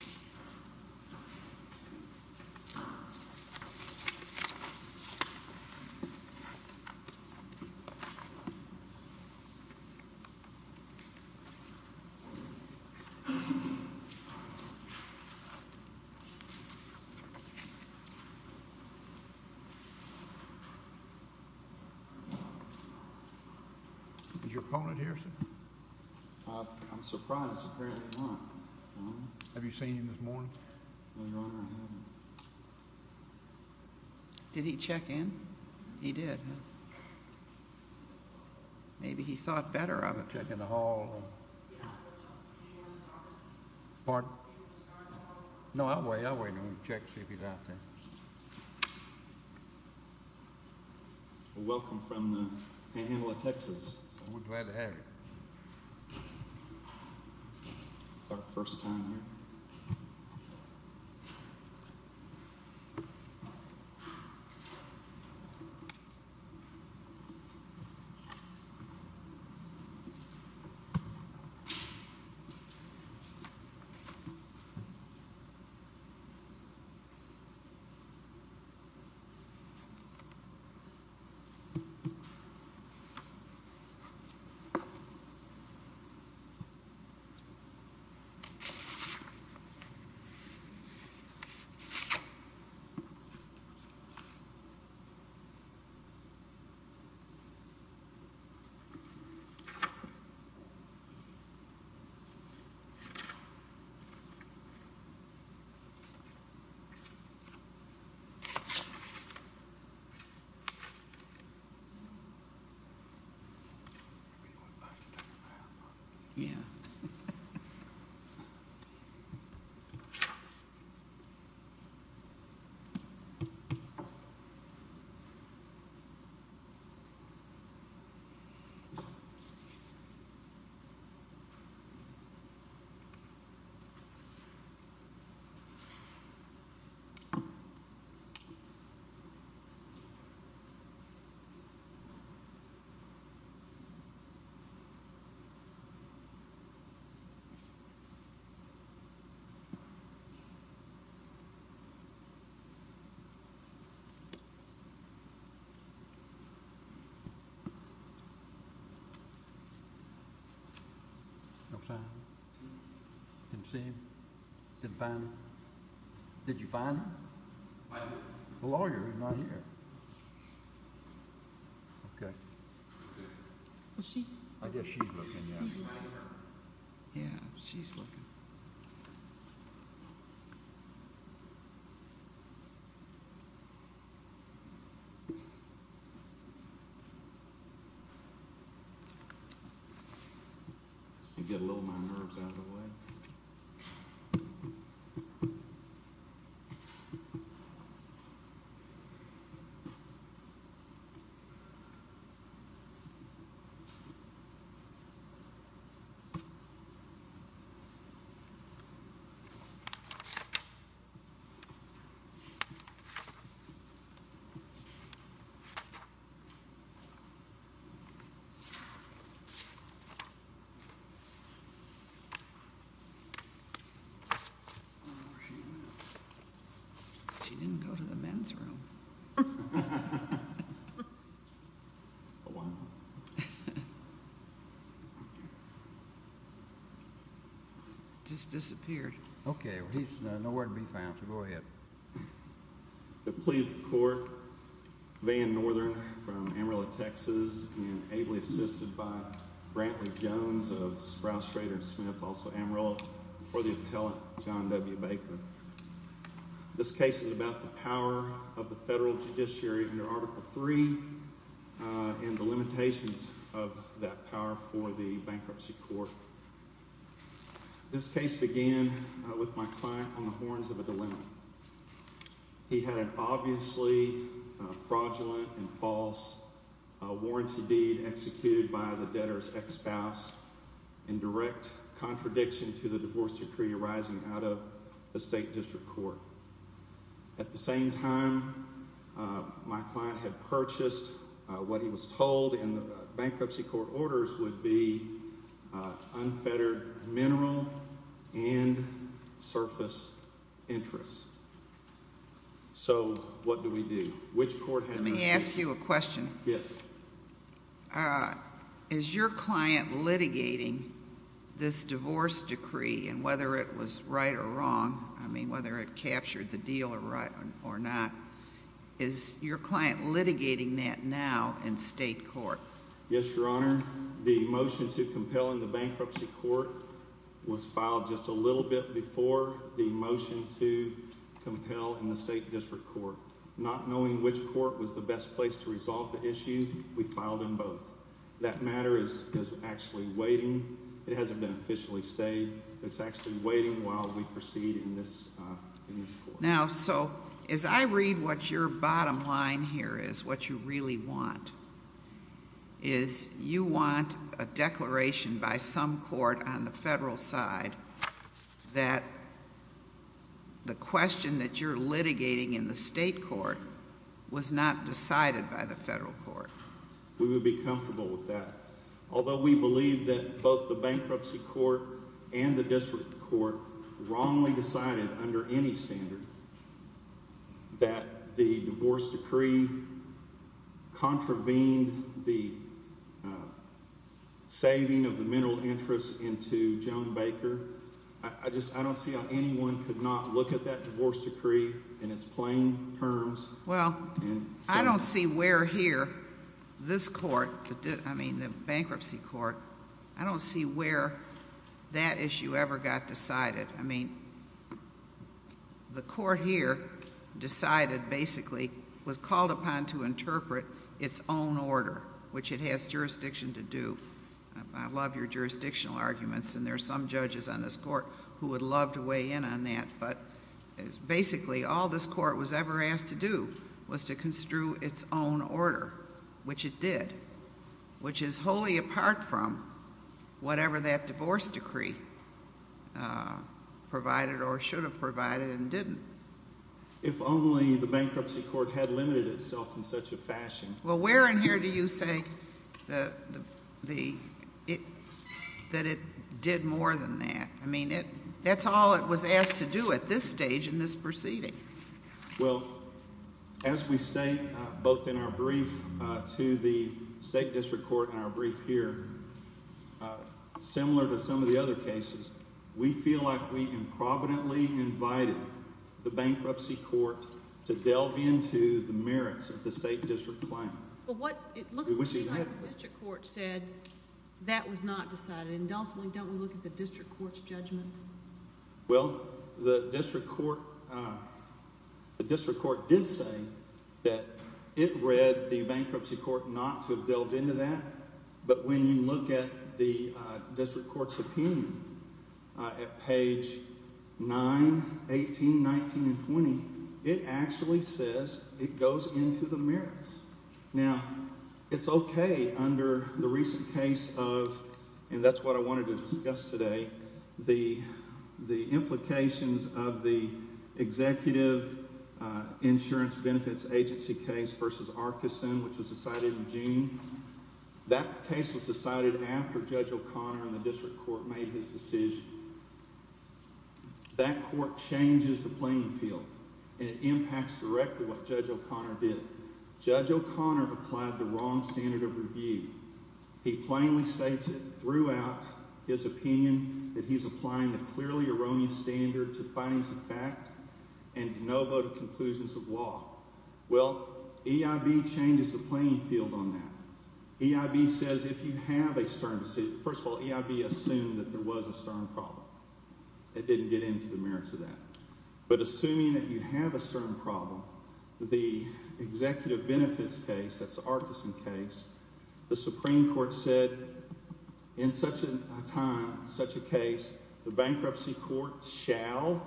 Joe Baker v. Joe Baker Is your opponent here, sir? I'm surprised. Apparently not. Have you seen him this morning? No, Your Honor, I haven't. Did he check in? He did, huh? Maybe he thought better of it. I'll check in the hall. Pardon? No, I'll wait. I'll wait and check to see if he's out there. Welcome from the handle of Texas. We're glad to have you. It's our first time here. Thank you. Yeah. Did you find him? The lawyer is not here. Okay. I guess she's looking, yeah. Yeah, she's looking. You get a little more nerves out of the way? She didn't go to the men's room. Just disappeared. Okay, he's nowhere to be found. Go ahead. Limitations of that power for the bankruptcy court. This case began with my client on the horns of a dilemma. He had an obviously fraudulent and false warranty deed executed by the debtor's ex-spouse in direct contradiction to the divorce decree arising out of the State District Court. At the same time, my client had purchased what he was told in the bankruptcy court orders would be unfettered mineral and surface interest. So, what do we do? Let me ask you a question. Yes. Is your client litigating this divorce decree, and whether it was right or wrong, I mean, whether it captured the deal or not, is your client litigating that now in state court? Yes, Your Honor. The motion to compel in the bankruptcy court was filed just a little bit before the motion to compel in the State District Court. Not knowing which court was the best place to resolve the issue, we filed them both. That matter is actually waiting. It hasn't been officially stated. It's actually waiting while we proceed in this court. Now, so, as I read what your bottom line here is, what you really want, is you want a declaration by some court on the federal side that the question that you're litigating in the state court was not decided by the federal court. We would be comfortable with that. Although we believe that both the bankruptcy court and the district court wrongly decided under any standard that the divorce decree contravened the saving of the mineral interest into Joan Baker, I just, I don't see how anyone could not look at that divorce decree in its plain terms. Well, I don't see where here this court, I mean the bankruptcy court, I don't see where that issue ever got decided. I mean, the court here decided, basically, was called upon to interpret its own order, which it has jurisdiction to do. I love your jurisdictional arguments, and there are some judges on this court who would love to weigh in on that. But, basically, all this court was ever asked to do was to construe its own order, which it did, which is wholly apart from whatever that divorce decree provided or should have provided and didn't. If only the bankruptcy court had limited itself in such a fashion. Well, where in here do you say that it did more than that? I mean, that's all it was asked to do at this stage in this proceeding. Well, as we state both in our brief to the state district court in our brief here, similar to some of the other cases, we feel like we improvidently invited the bankruptcy court to delve into the merits of the state district plan. But what it looks to me like the district court said that was not decided, and don't we look at the district court's judgment? Well, the district court did say that it read the bankruptcy court not to have delved into that. But when you look at the district court's opinion at page 9, 18, 19, and 20, it actually says it goes into the merits. Now, it's okay under the recent case of, and that's what I wanted to discuss today, the implications of the executive insurance benefits agency case versus Arkeson, which was decided in June. That case was decided after Judge O'Connor and the district court made his decision. That court changes the playing field, and it impacts directly what Judge O'Connor did. Judge O'Connor applied the wrong standard of review. He plainly states it throughout his opinion that he's applying the clearly erroneous standard to findings of fact and no vote of conclusions of law. Well, EIB changes the playing field on that. EIB says if you have a stern – first of all, EIB assumed that there was a stern problem. It didn't get into the merits of that. But assuming that you have a stern problem, the executive benefits case, that's the Arkeson case, the Supreme Court said in such a time, such a case, the bankruptcy court shall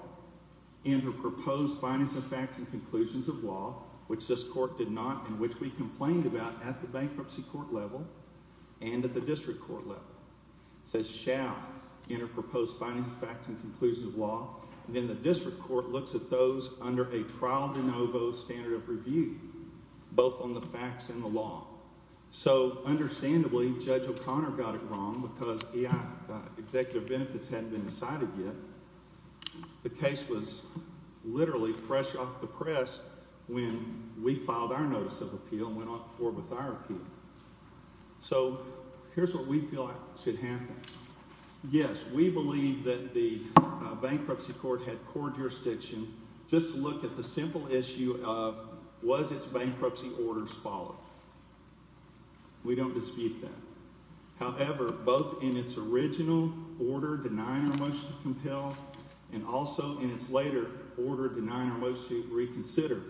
enter proposed findings of fact and conclusions of law, which this court did not and which we complained about at the bankruptcy court level and at the district court level. It says shall enter proposed findings of fact and conclusions of law, and then the district court looks at those under a trial de novo standard of review, both on the facts and the law. So, understandably, Judge O'Connor got it wrong because EIB – executive benefits hadn't been decided yet. The case was literally fresh off the press when we filed our notice of appeal and went forward with our appeal. So here's what we feel should happen. Yes, we believe that the bankruptcy court had poor jurisdiction. Just look at the simple issue of was its bankruptcy orders followed. We don't dispute that. However, both in its original order denying our motion to compel and also in its later order denying our motion to reconsider,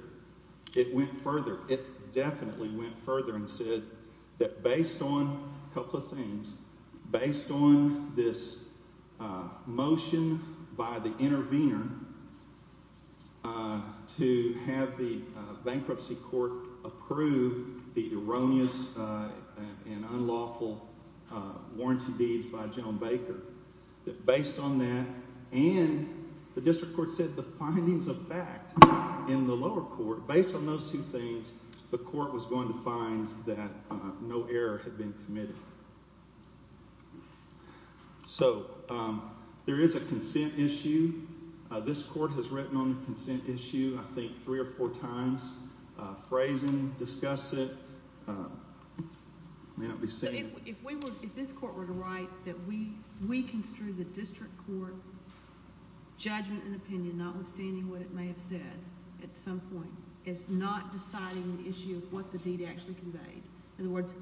it went further. It definitely went further and said that based on a couple of things, based on this motion by the intervener to have the bankruptcy court approve the erroneous and unlawful warranty deeds by Joan Baker, that based on that and the district court said the findings of fact in the lower court, based on those two things, the court was going to find that no error had been committed. So, there is a consent issue. This court has written on the consent issue, I think, three or four times, phrased it, discussed it. If this court were to write that we construe the district court judgment and opinion, notwithstanding what it may have said at some point, it's not deciding the issue of what the deed actually conveyed. In other words,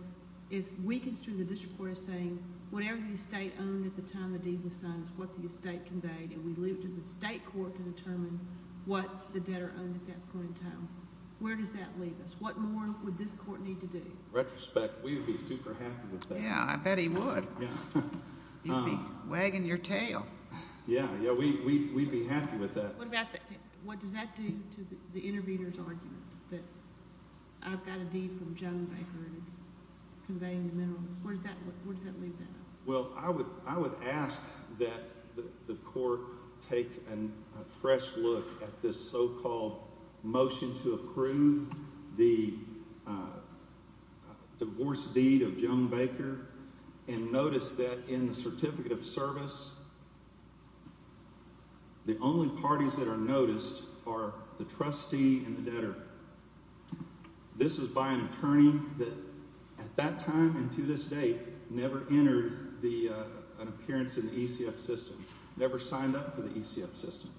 if we construe the district court as saying whatever the estate owned at the time the deed was signed is what the estate conveyed and we leave it to the state court to determine what the debtor owned at that point in time, where does that leave us? What more would this court need to do? Retrospect, we would be super happy with that. Yeah, I bet he would. He'd be wagging your tail. Yeah, we'd be happy with that. What does that do to the intervener's argument that I've got a deed from Joan Baker and it's conveying the minerals? Where does that leave that? Well, I would ask that the court take a fresh look at this so-called motion to approve the divorce deed of Joan Baker and notice that in the certificate of service, the only parties that are noticed are the trustee and the debtor. This is by an attorney that at that time and to this date never entered an appearance in the ECF system, never signed up for the ECF system.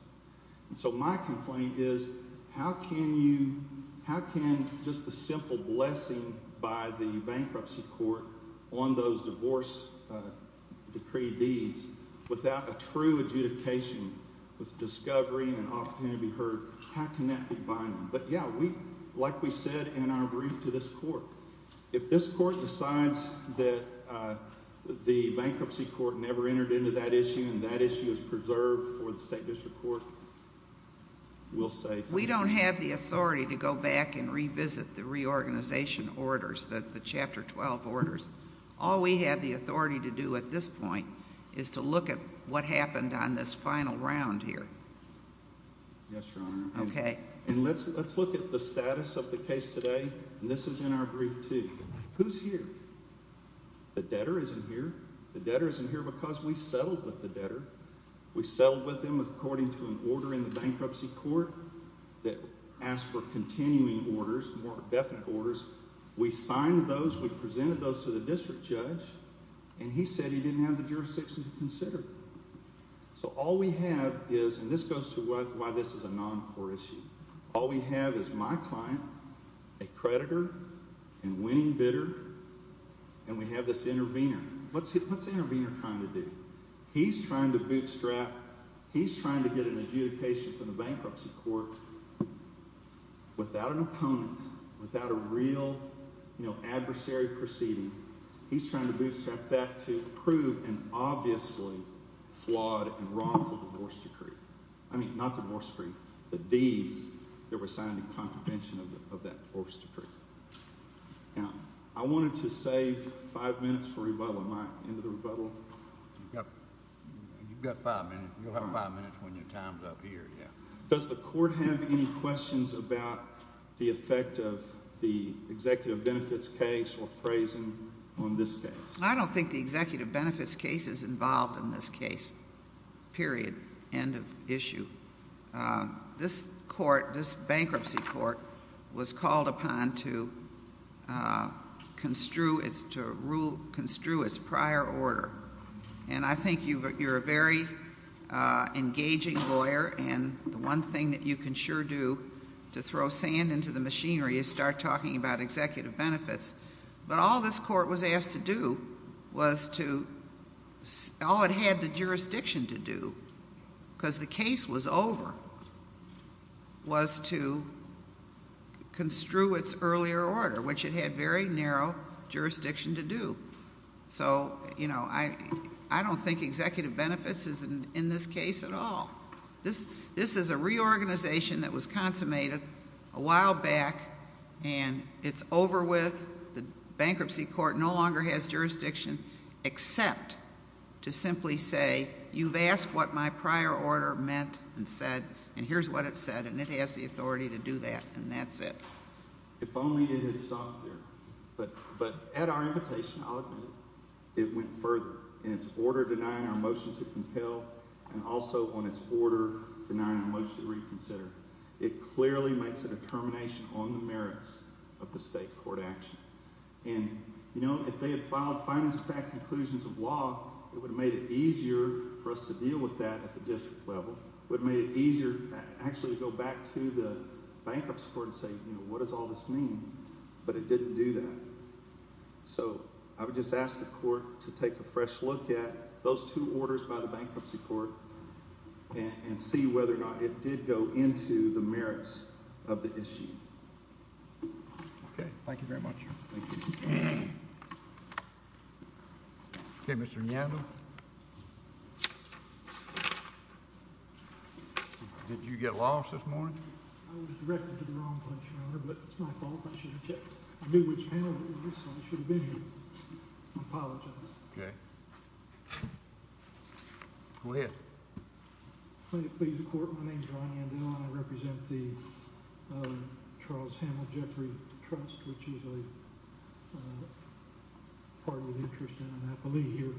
So my complaint is how can you – how can just a simple blessing by the bankruptcy court on those divorce decree deeds without a true adjudication with discovery and an opportunity to be heard, how can that be binding? But yeah, like we said in our brief to this court, if this court decides that the bankruptcy court never entered into that issue and that issue is preserved for the state district court, we'll say – We don't have the authority to go back and revisit the reorganization orders, the Chapter 12 orders. All we have the authority to do at this point is to look at what happened on this final round here. Yes, Your Honor. Okay. And let's look at the status of the case today, and this is in our brief too. Who's here? The debtor isn't here. The debtor isn't here because we settled with the debtor. We settled with him according to an order in the bankruptcy court that asked for continuing orders, more definite orders. We signed those. We presented those to the district judge, and he said he didn't have the jurisdiction to consider them. So all we have is – and this goes to why this is a non-core issue. All we have is my client, a creditor, a winning bidder, and we have this intervener. What's the intervener trying to do? He's trying to bootstrap – he's trying to get an adjudication from the bankruptcy court without an opponent, without a real adversary proceeding. He's trying to bootstrap that to prove an obviously flawed and wrongful divorce decree. I mean not divorce decree, the deeds that were signed in contravention of that divorce decree. Now, I wanted to save five minutes for rebuttal. Am I into the rebuttal? You've got five minutes. You'll have five minutes when your time's up here, yeah. Does the court have any questions about the effect of the executive benefits case or phrasing on this case? I don't think the executive benefits case is involved in this case, period, end of issue. This court, this bankruptcy court, was called upon to construe its prior order. And I think you're a very engaging lawyer, and the one thing that you can sure do to throw sand into the machinery is start talking about executive benefits. But all this court was asked to do was to – all it had the jurisdiction to do, because the case was over, was to construe its earlier order, which it had very narrow jurisdiction to do. So, you know, I don't think executive benefits is in this case at all. This is a reorganization that was consummated a while back, and it's over with. The bankruptcy court no longer has jurisdiction except to simply say, you've asked what my prior order meant and said, and here's what it said, and it has the authority to do that, and that's it. If only it had stopped there. But at our invitation, I'll admit it, it went further. In its order denying our motion to compel and also on its order denying our motion to reconsider, it clearly makes a determination on the merits of the state court action. And, you know, if they had filed findings of fact, conclusions of law, it would have made it easier for us to deal with that at the district level. It would have made it easier actually to go back to the bankruptcy court and say, you know, what does all this mean? But it didn't do that. So I would just ask the court to take a fresh look at those two orders by the bankruptcy court and see whether or not it did go into the merits of the issue. OK, thank you very much. Thank you. OK, Mr. Neal. Did you get lost this morning? I was directed to the wrong place, Your Honor, but it's my fault. I should have checked. I knew which panel it was, so I should have been here. I apologize. OK. Go ahead. Plenty to please the court. My name is Ron Yandell, and I represent the Charles Hamill Jeffrey Trust, which is a party of interest in Annapolis here.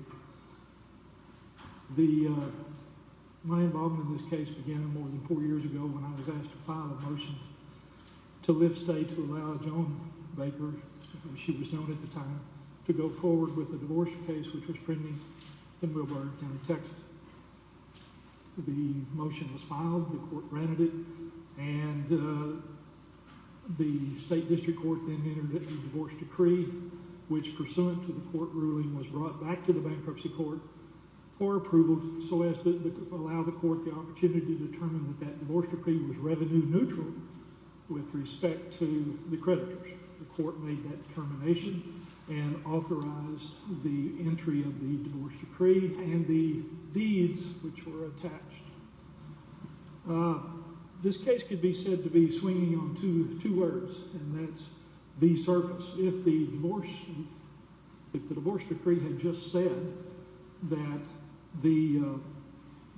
My involvement in this case began more than four years ago when I was asked to file a motion to lift state to allow Joan Baker, as she was known at the time, to go forward with a divorce case, which was pending in Millburn County, Texas. The motion was filed. The court granted it, and the state district court then entered a divorce decree, which, pursuant to the court ruling, was brought back to the bankruptcy court for approval so as to allow the court the opportunity to determine that that divorce decree was revenue neutral with respect to the creditors. The court made that determination and authorized the entry of the divorce decree and the deeds which were attached. This case could be said to be swinging on two words, and that's the surface. If the divorce decree had just said that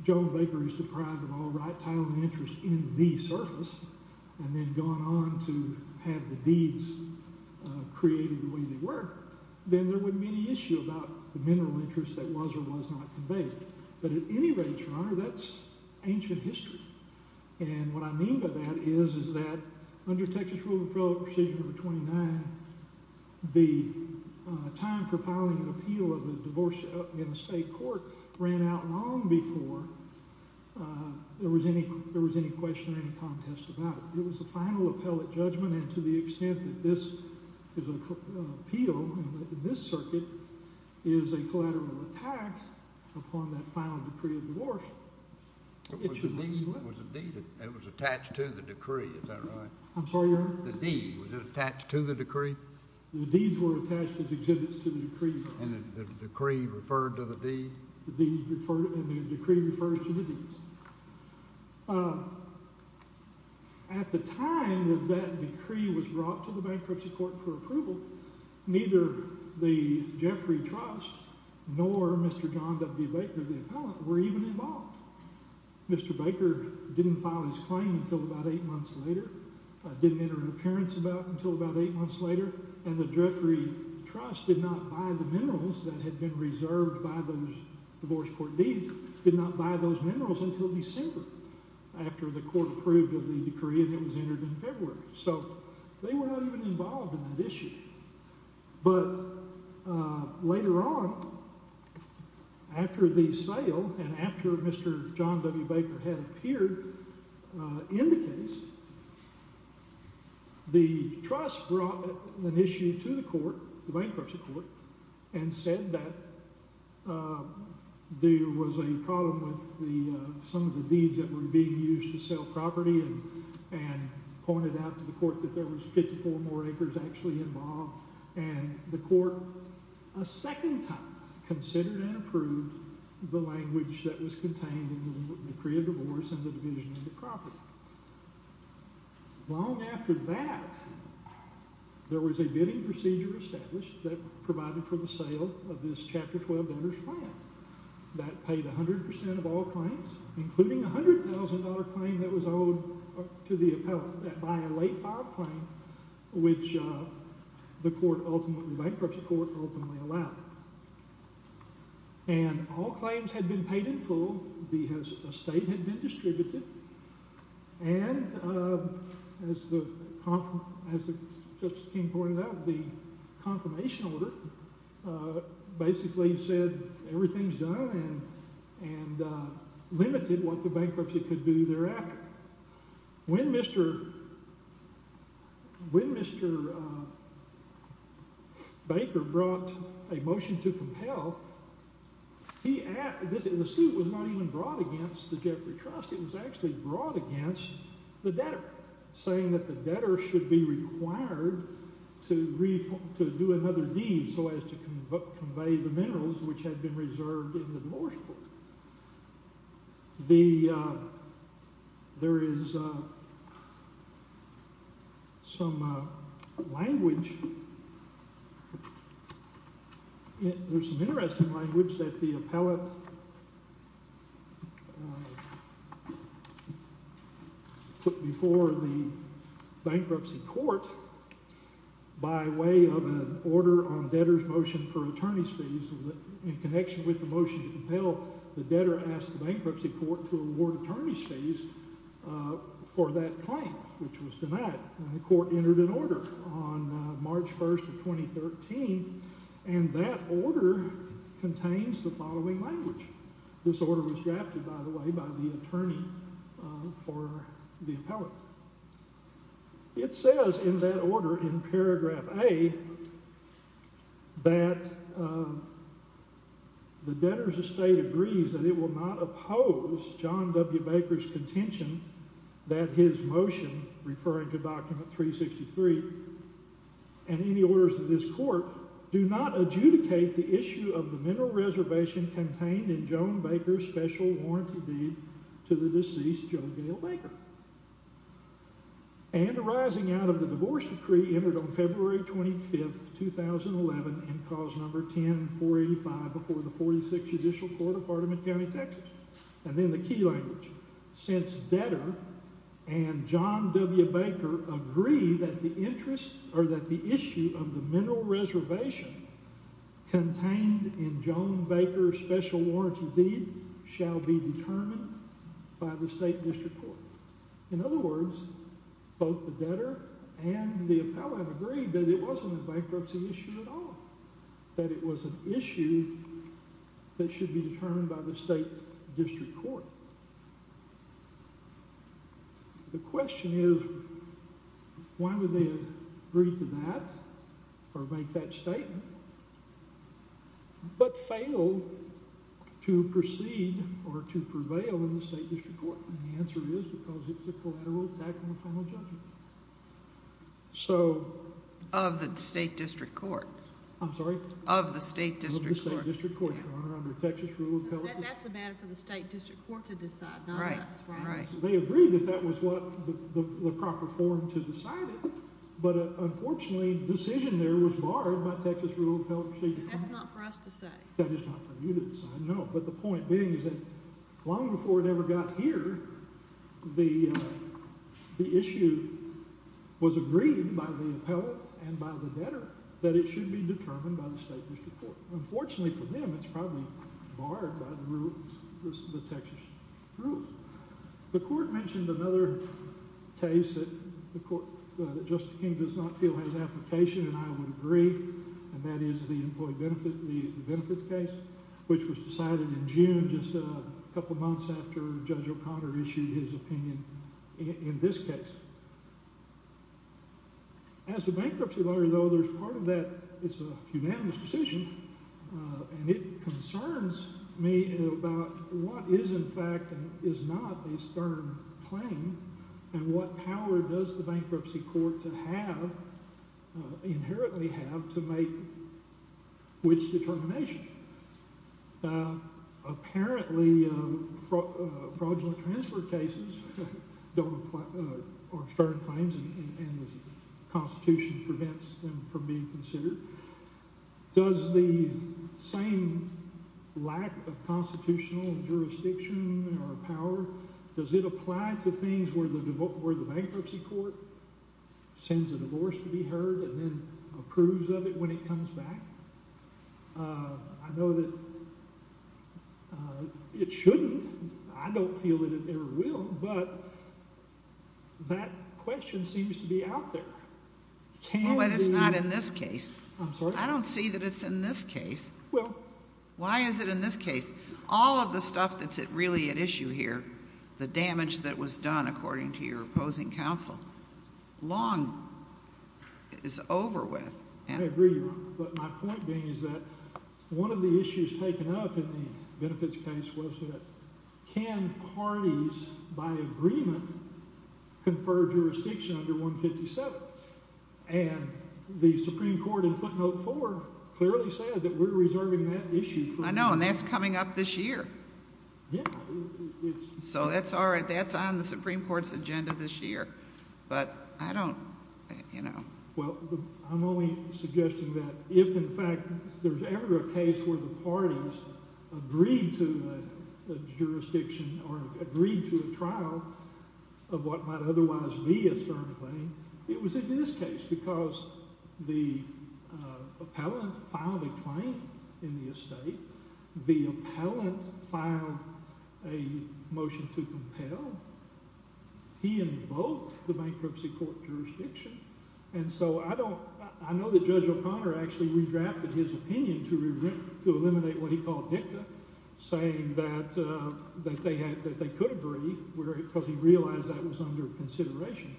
Joan Baker is deprived of all right, title, and interest in the surface and then gone on to have the deeds created the way they were, then there wouldn't be any issue about the mineral interest that was or was not conveyed. But at any rate, Your Honor, that's ancient history. And what I mean by that is that under Texas Rule of Appellate Precision No. 29, the time for filing an appeal of a divorce in a state court ran out long before there was any question or any contest about it. It was a final appellate judgment, and to the extent that this appeal in this circuit is a collateral attack upon that final decree of divorce, it should mean that it was attached to the decree. Is that right? I'm sorry, Your Honor? The deed. Was it attached to the decree? The deeds were attached as exhibits to the decree. And the decree referred to the deed? The deed referred and the decree referred to the deeds. At the time that that decree was brought to the bankruptcy court for approval, neither the Jeffrey Trust nor Mr. John W. Baker, the appellate, were even involved. Mr. Baker didn't file his claim until about eight months later, didn't enter an appearance about it until about eight months later, and the Jeffrey Trust did not buy the minerals that had been reserved by those divorce court deeds, did not buy those minerals until December after the court approved of the decree and it was entered in February. So they were not even involved in that issue. But later on, after the sale and after Mr. John W. Baker had appeared in the case, the trust brought an issue to the court, the bankruptcy court, and said that there was a problem with some of the deeds that were being used to sell property and pointed out to the court that there was 54 more acres actually involved. And the court a second time considered and approved the language that was contained in the decree of divorce and the division of the property. Long after that, there was a bidding procedure established that provided for the sale of this Chapter 12 owner's plan. That paid 100% of all claims, including a $100,000 claim that was owed to the appellate by a late-file claim, which the bankruptcy court ultimately allowed. And all claims had been paid in full, the estate had been distributed, and as Judge King pointed out, the confirmation order basically said, everything's done and limited what the bankruptcy could do thereafter. When Mr. Baker brought a motion to compel, the suit was not even brought against the Jeffrey Trust. It was actually brought against the debtor, saying that the debtor should be required to do another deed so as to convey the minerals which had been reserved in the divorce book. There is some language, there's some interesting language that the appellate put before the bankruptcy court by way of an order on debtor's motion for attorney's fees in connection with the motion to compel, the debtor asked the bankruptcy court to award attorney's fees for that claim, which was denied, and the court entered an order on March 1st of 2013, and that order contains the following language. This order was drafted, by the way, by the attorney for the appellate. It says in that order in paragraph A that the debtor's estate agrees that it will not oppose John W. Baker's contention that his motion, referring to document 363, and any orders of this court do not adjudicate the issue of the mineral reservation contained in John Baker's special warranty deed to the deceased Joe Gale Baker. And arising out of the divorce decree entered on February 25th, 2011, in cause number 10485 before the 46th Judicial Court of Hardeman County, Texas. And then the key language. Since debtor and John W. Baker agree that the interest, or that the issue of the mineral reservation contained in John Baker's special warranty deed shall be determined by the state district court. In other words, both the debtor and the appellate agreed that it wasn't a bankruptcy issue at all, that it was an issue that should be determined by the state district court. The question is, why would they agree to that, or make that statement, but fail to proceed or to prevail in the state district court? And the answer is because it's a collateral attack on the final judgment. So... Of the state district court. I'm sorry? Of the state district court. Of the state district court, Your Honor, under Texas rule of appellate... That's a matter for the state district court to decide, not us. Right, right. They agreed that that was the proper form to decide it, but unfortunately the decision there was barred by Texas rule of appellate procedure. That's not for us to say. That is not for you to decide, no. But the point being is that long before it ever got here, the issue was agreed by the appellate and by the debtor that it should be determined by the state district court. Unfortunately for them, it's probably barred by the Texas rules. The court mentioned another case that Justice King does not feel has application and I would agree, and that is the employee benefits case, which was decided in June, just a couple of months after Judge O'Connor issued his opinion in this case. As a bankruptcy lawyer, though, there's part of that, it's a unanimous decision, and it concerns me about what is in fact and is not a stern claim and what power does the bankruptcy court to have, inherently have, to make which determination. Apparently, fraudulent transfer cases are stern claims and the Constitution prevents them from being considered. Does the same lack of constitutional jurisdiction or power, does it apply to things where the bankruptcy court sends a divorce to be heard and then approves of it when it comes back? I know that it shouldn't, I don't feel that it ever will, but that question seems to be out there. Well, but it's not in this case. I'm sorry? I don't see that it's in this case. Well. Why is it in this case? All of the stuff that's really at issue here, the damage that was done according to your opposing counsel, long is over with. I agree, but my point being is that one of the issues taken up in the benefits case was that can parties, by agreement, confer jurisdiction under 157? And the Supreme Court in footnote four clearly said that we're reserving that issue. I know, and that's coming up this year. Yeah. So that's all right. That's on the Supreme Court's agenda this year, but I don't, you know. Well, I'm only suggesting that if, in fact, there's ever a case where the parties agreed to a jurisdiction or agreed to a trial of what might otherwise be a stern claim, it was in this case because the appellant filed a claim in the estate. The appellant filed a motion to compel. He invoked the bankruptcy court jurisdiction. And so I don't, I know that Judge O'Connor actually redrafted his opinion to eliminate what he called dicta, saying that they could agree because he realized that was under consideration.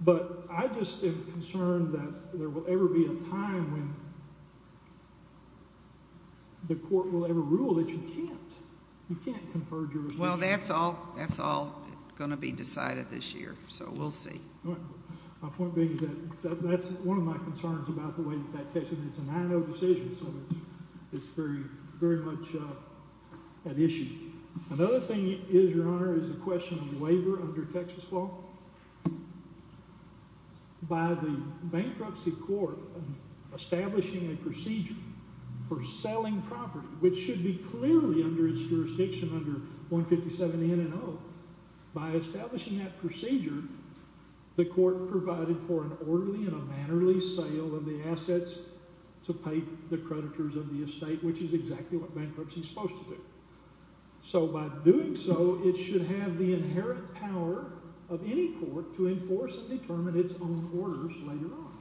But I just am concerned that there will ever be a time when the court will ever rule that you can't. You can't confer jurisdiction. Well, that's all going to be decided this year, so we'll see. All right. My point being is that that's one of my concerns about the way that that case, and it's a 9-0 decision, so it's very much at issue. Another thing is, Your Honor, is the question of waiver under Texas law. By the bankruptcy court establishing a procedure for selling property, which should be clearly under its jurisdiction under 157-N-0, by establishing that procedure, the court provided for an orderly and a mannerly sale of the assets to pay the creditors of the estate, which is exactly what bankruptcy is supposed to do. So by doing so, it should have the inherent power of any court to enforce and determine its own orders later on,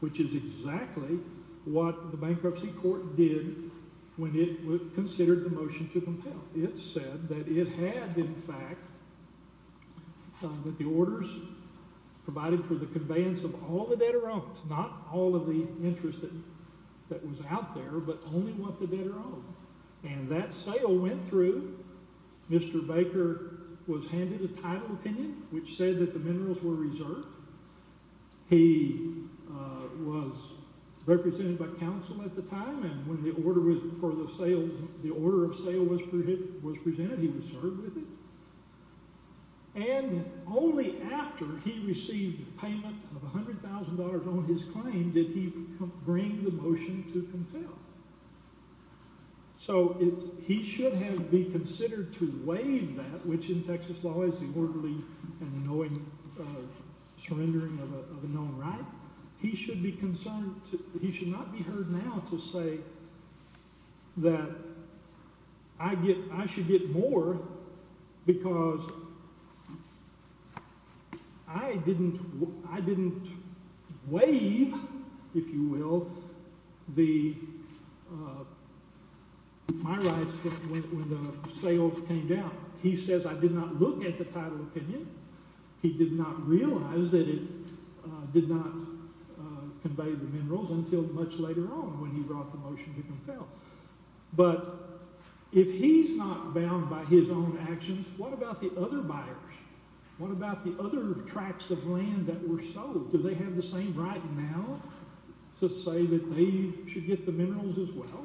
which is exactly what the bankruptcy court did when it considered the motion to compel. It said that it had, in fact, that the orders provided for the conveyance of all the debtor-owned, not all of the interest that was out there, but only what the debtor-owned. And that sale went through. Mr. Baker was handed a title opinion, which said that the minerals were reserved. He was represented by counsel at the time, and when the order of sale was presented, he was served with it. And only after he received payment of $100,000 on his claim did he bring the motion to compel. So he should have been considered to waive that, which in Texas law is the orderly and knowing surrendering of a known right. He should not be heard now to say that I should get more because I didn't waive, if you will, my rights when the sale came down. He says I did not look at the title opinion. He did not realize that it did not convey the minerals until much later on when he brought the motion to compel. But if he's not bound by his own actions, what about the other buyers? What about the other tracts of land that were sold? Do they have the same right now to say that they should get the minerals as well,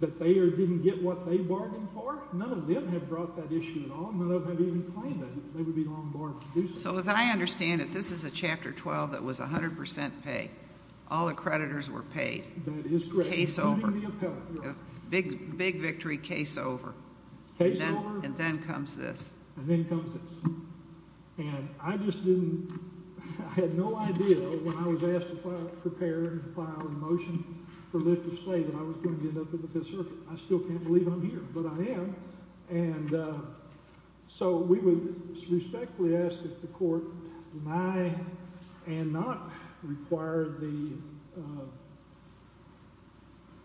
that they didn't get what they bargained for? None of them have brought that issue at all. None of them have even claimed it. They would be long barred from doing so. So as I understand it, this is a Chapter 12 that was 100% pay. All the creditors were paid. That is correct. Case over. Including the appellant. Big victory, case over. Case over. And then comes this. And then comes this. And I just didn't, I had no idea when I was asked to prepare and file a motion for lift of say that I was going to end up at the Fifth Circuit. I still can't believe I'm here. But I am. And so we would respectfully ask that the court deny and not require the,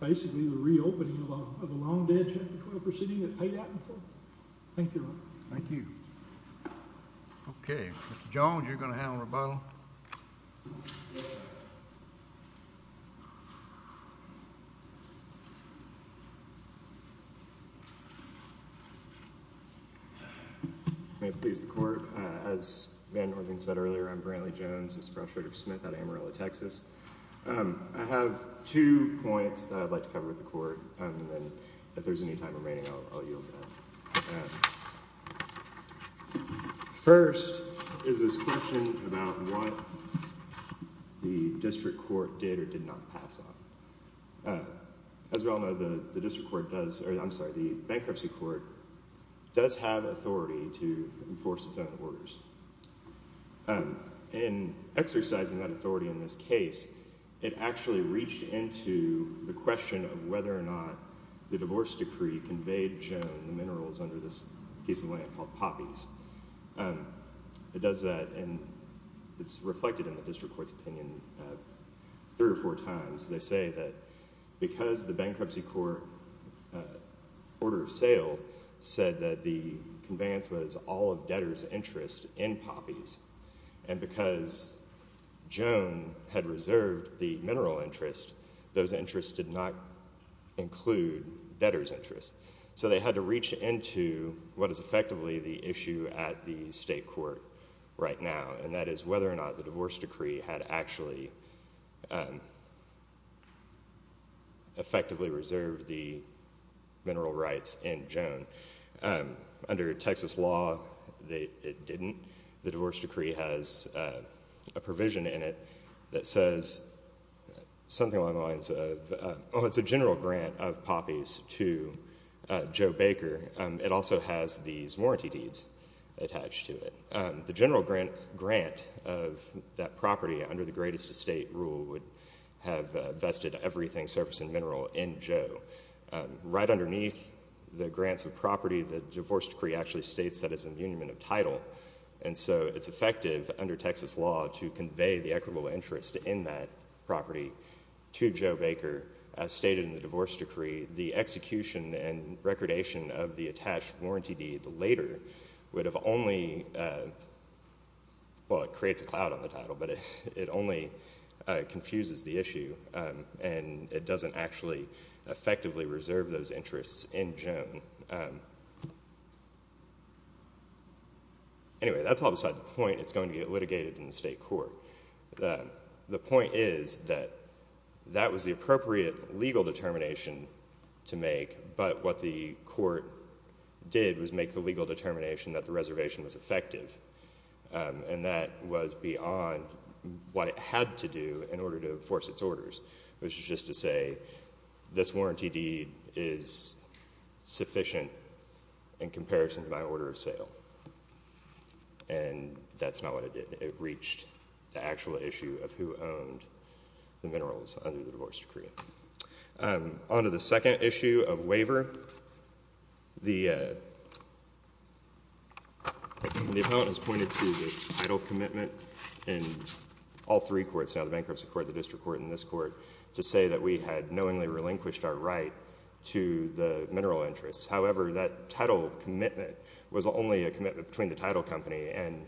basically the reopening of a long dead Chapter 12 proceeding that paid out in full. Thank you, Your Honor. Thank you. Okay. Mr. Jones, you're going to handle rebuttal. Rebuttal. May it please the court. As Van Norden said earlier, I'm Brantley Jones. This is Professor Smith out of Amarillo, Texas. I have two points that I'd like to cover with the court. And then if there's any time remaining, I'll yield to that. First is this question about what the district court did or did not pass on. As we all know, the district court does, or I'm sorry, the bankruptcy court does have authority to enforce its own orders. In exercising that authority in this case, it actually reached into the question of whether or not the divorce decree conveyed Joan the minerals under this piece of land called Poppies. It does that, and it's reflected in the district court's opinion three or four times. They say that because the bankruptcy court order of sale said that the conveyance was all of debtors' interest in Poppies, and because Joan had reserved the mineral interest, those interests did not include debtors' interest. So they had to reach into what is effectively the issue at the state court right now, and that is whether or not the divorce decree had actually effectively reserved the mineral rights in Joan. Under Texas law, it didn't. The divorce decree has a provision in it that says something along the lines of, oh, it's a general grant of Poppies to Joe Baker. It also has these warranty deeds attached to it. The general grant of that property under the greatest estate rule would have vested everything, surface and mineral, in Joe. Right underneath the grants of property, the divorce decree actually states that it's an union of title, and so it's effective under Texas law to convey the equitable interest in that property to Joe Baker. As stated in the divorce decree, the execution and recordation of the attached warranty deed later would have only, well, it creates a cloud on the title, but it only confuses the issue, and it doesn't actually effectively reserve those interests in Joan. Anyway, that's all beside the point. It's going to get litigated in the state court. The point is that that was the appropriate legal determination to make, but what the court did was make the legal determination that the reservation was effective, and that was beyond what it had to do in order to enforce its orders, which is just to say this warranty deed is sufficient in comparison to my order of sale, and that's not what it did. It reached the actual issue of who owned the minerals under the divorce decree. On to the second issue of waiver, the appellant has pointed to this title commitment in all three courts now, the bankruptcy court, the district court, and this court, to say that we had knowingly relinquished our right to the mineral interests. However, that title commitment was only a commitment between the title company and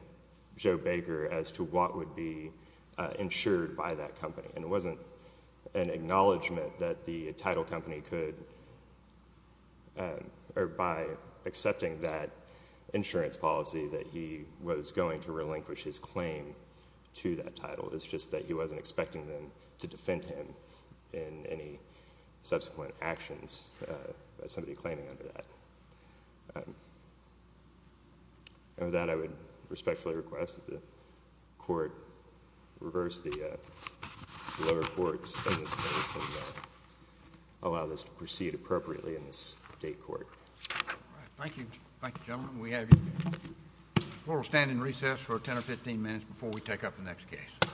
Joe Baker as to what would be insured by that company, and it wasn't an acknowledgment that the title company could, or by accepting that insurance policy that he was going to relinquish his claim to that title. It's just that he wasn't expecting them to defend him in any subsequent actions by somebody claiming under that. And with that, I would respectfully request that the court reverse the lower courts in this case and allow this to proceed appropriately in this date court. All right. Thank you. Thank you, gentlemen. We'll stand in recess for 10 or 15 minutes before we take up the next case.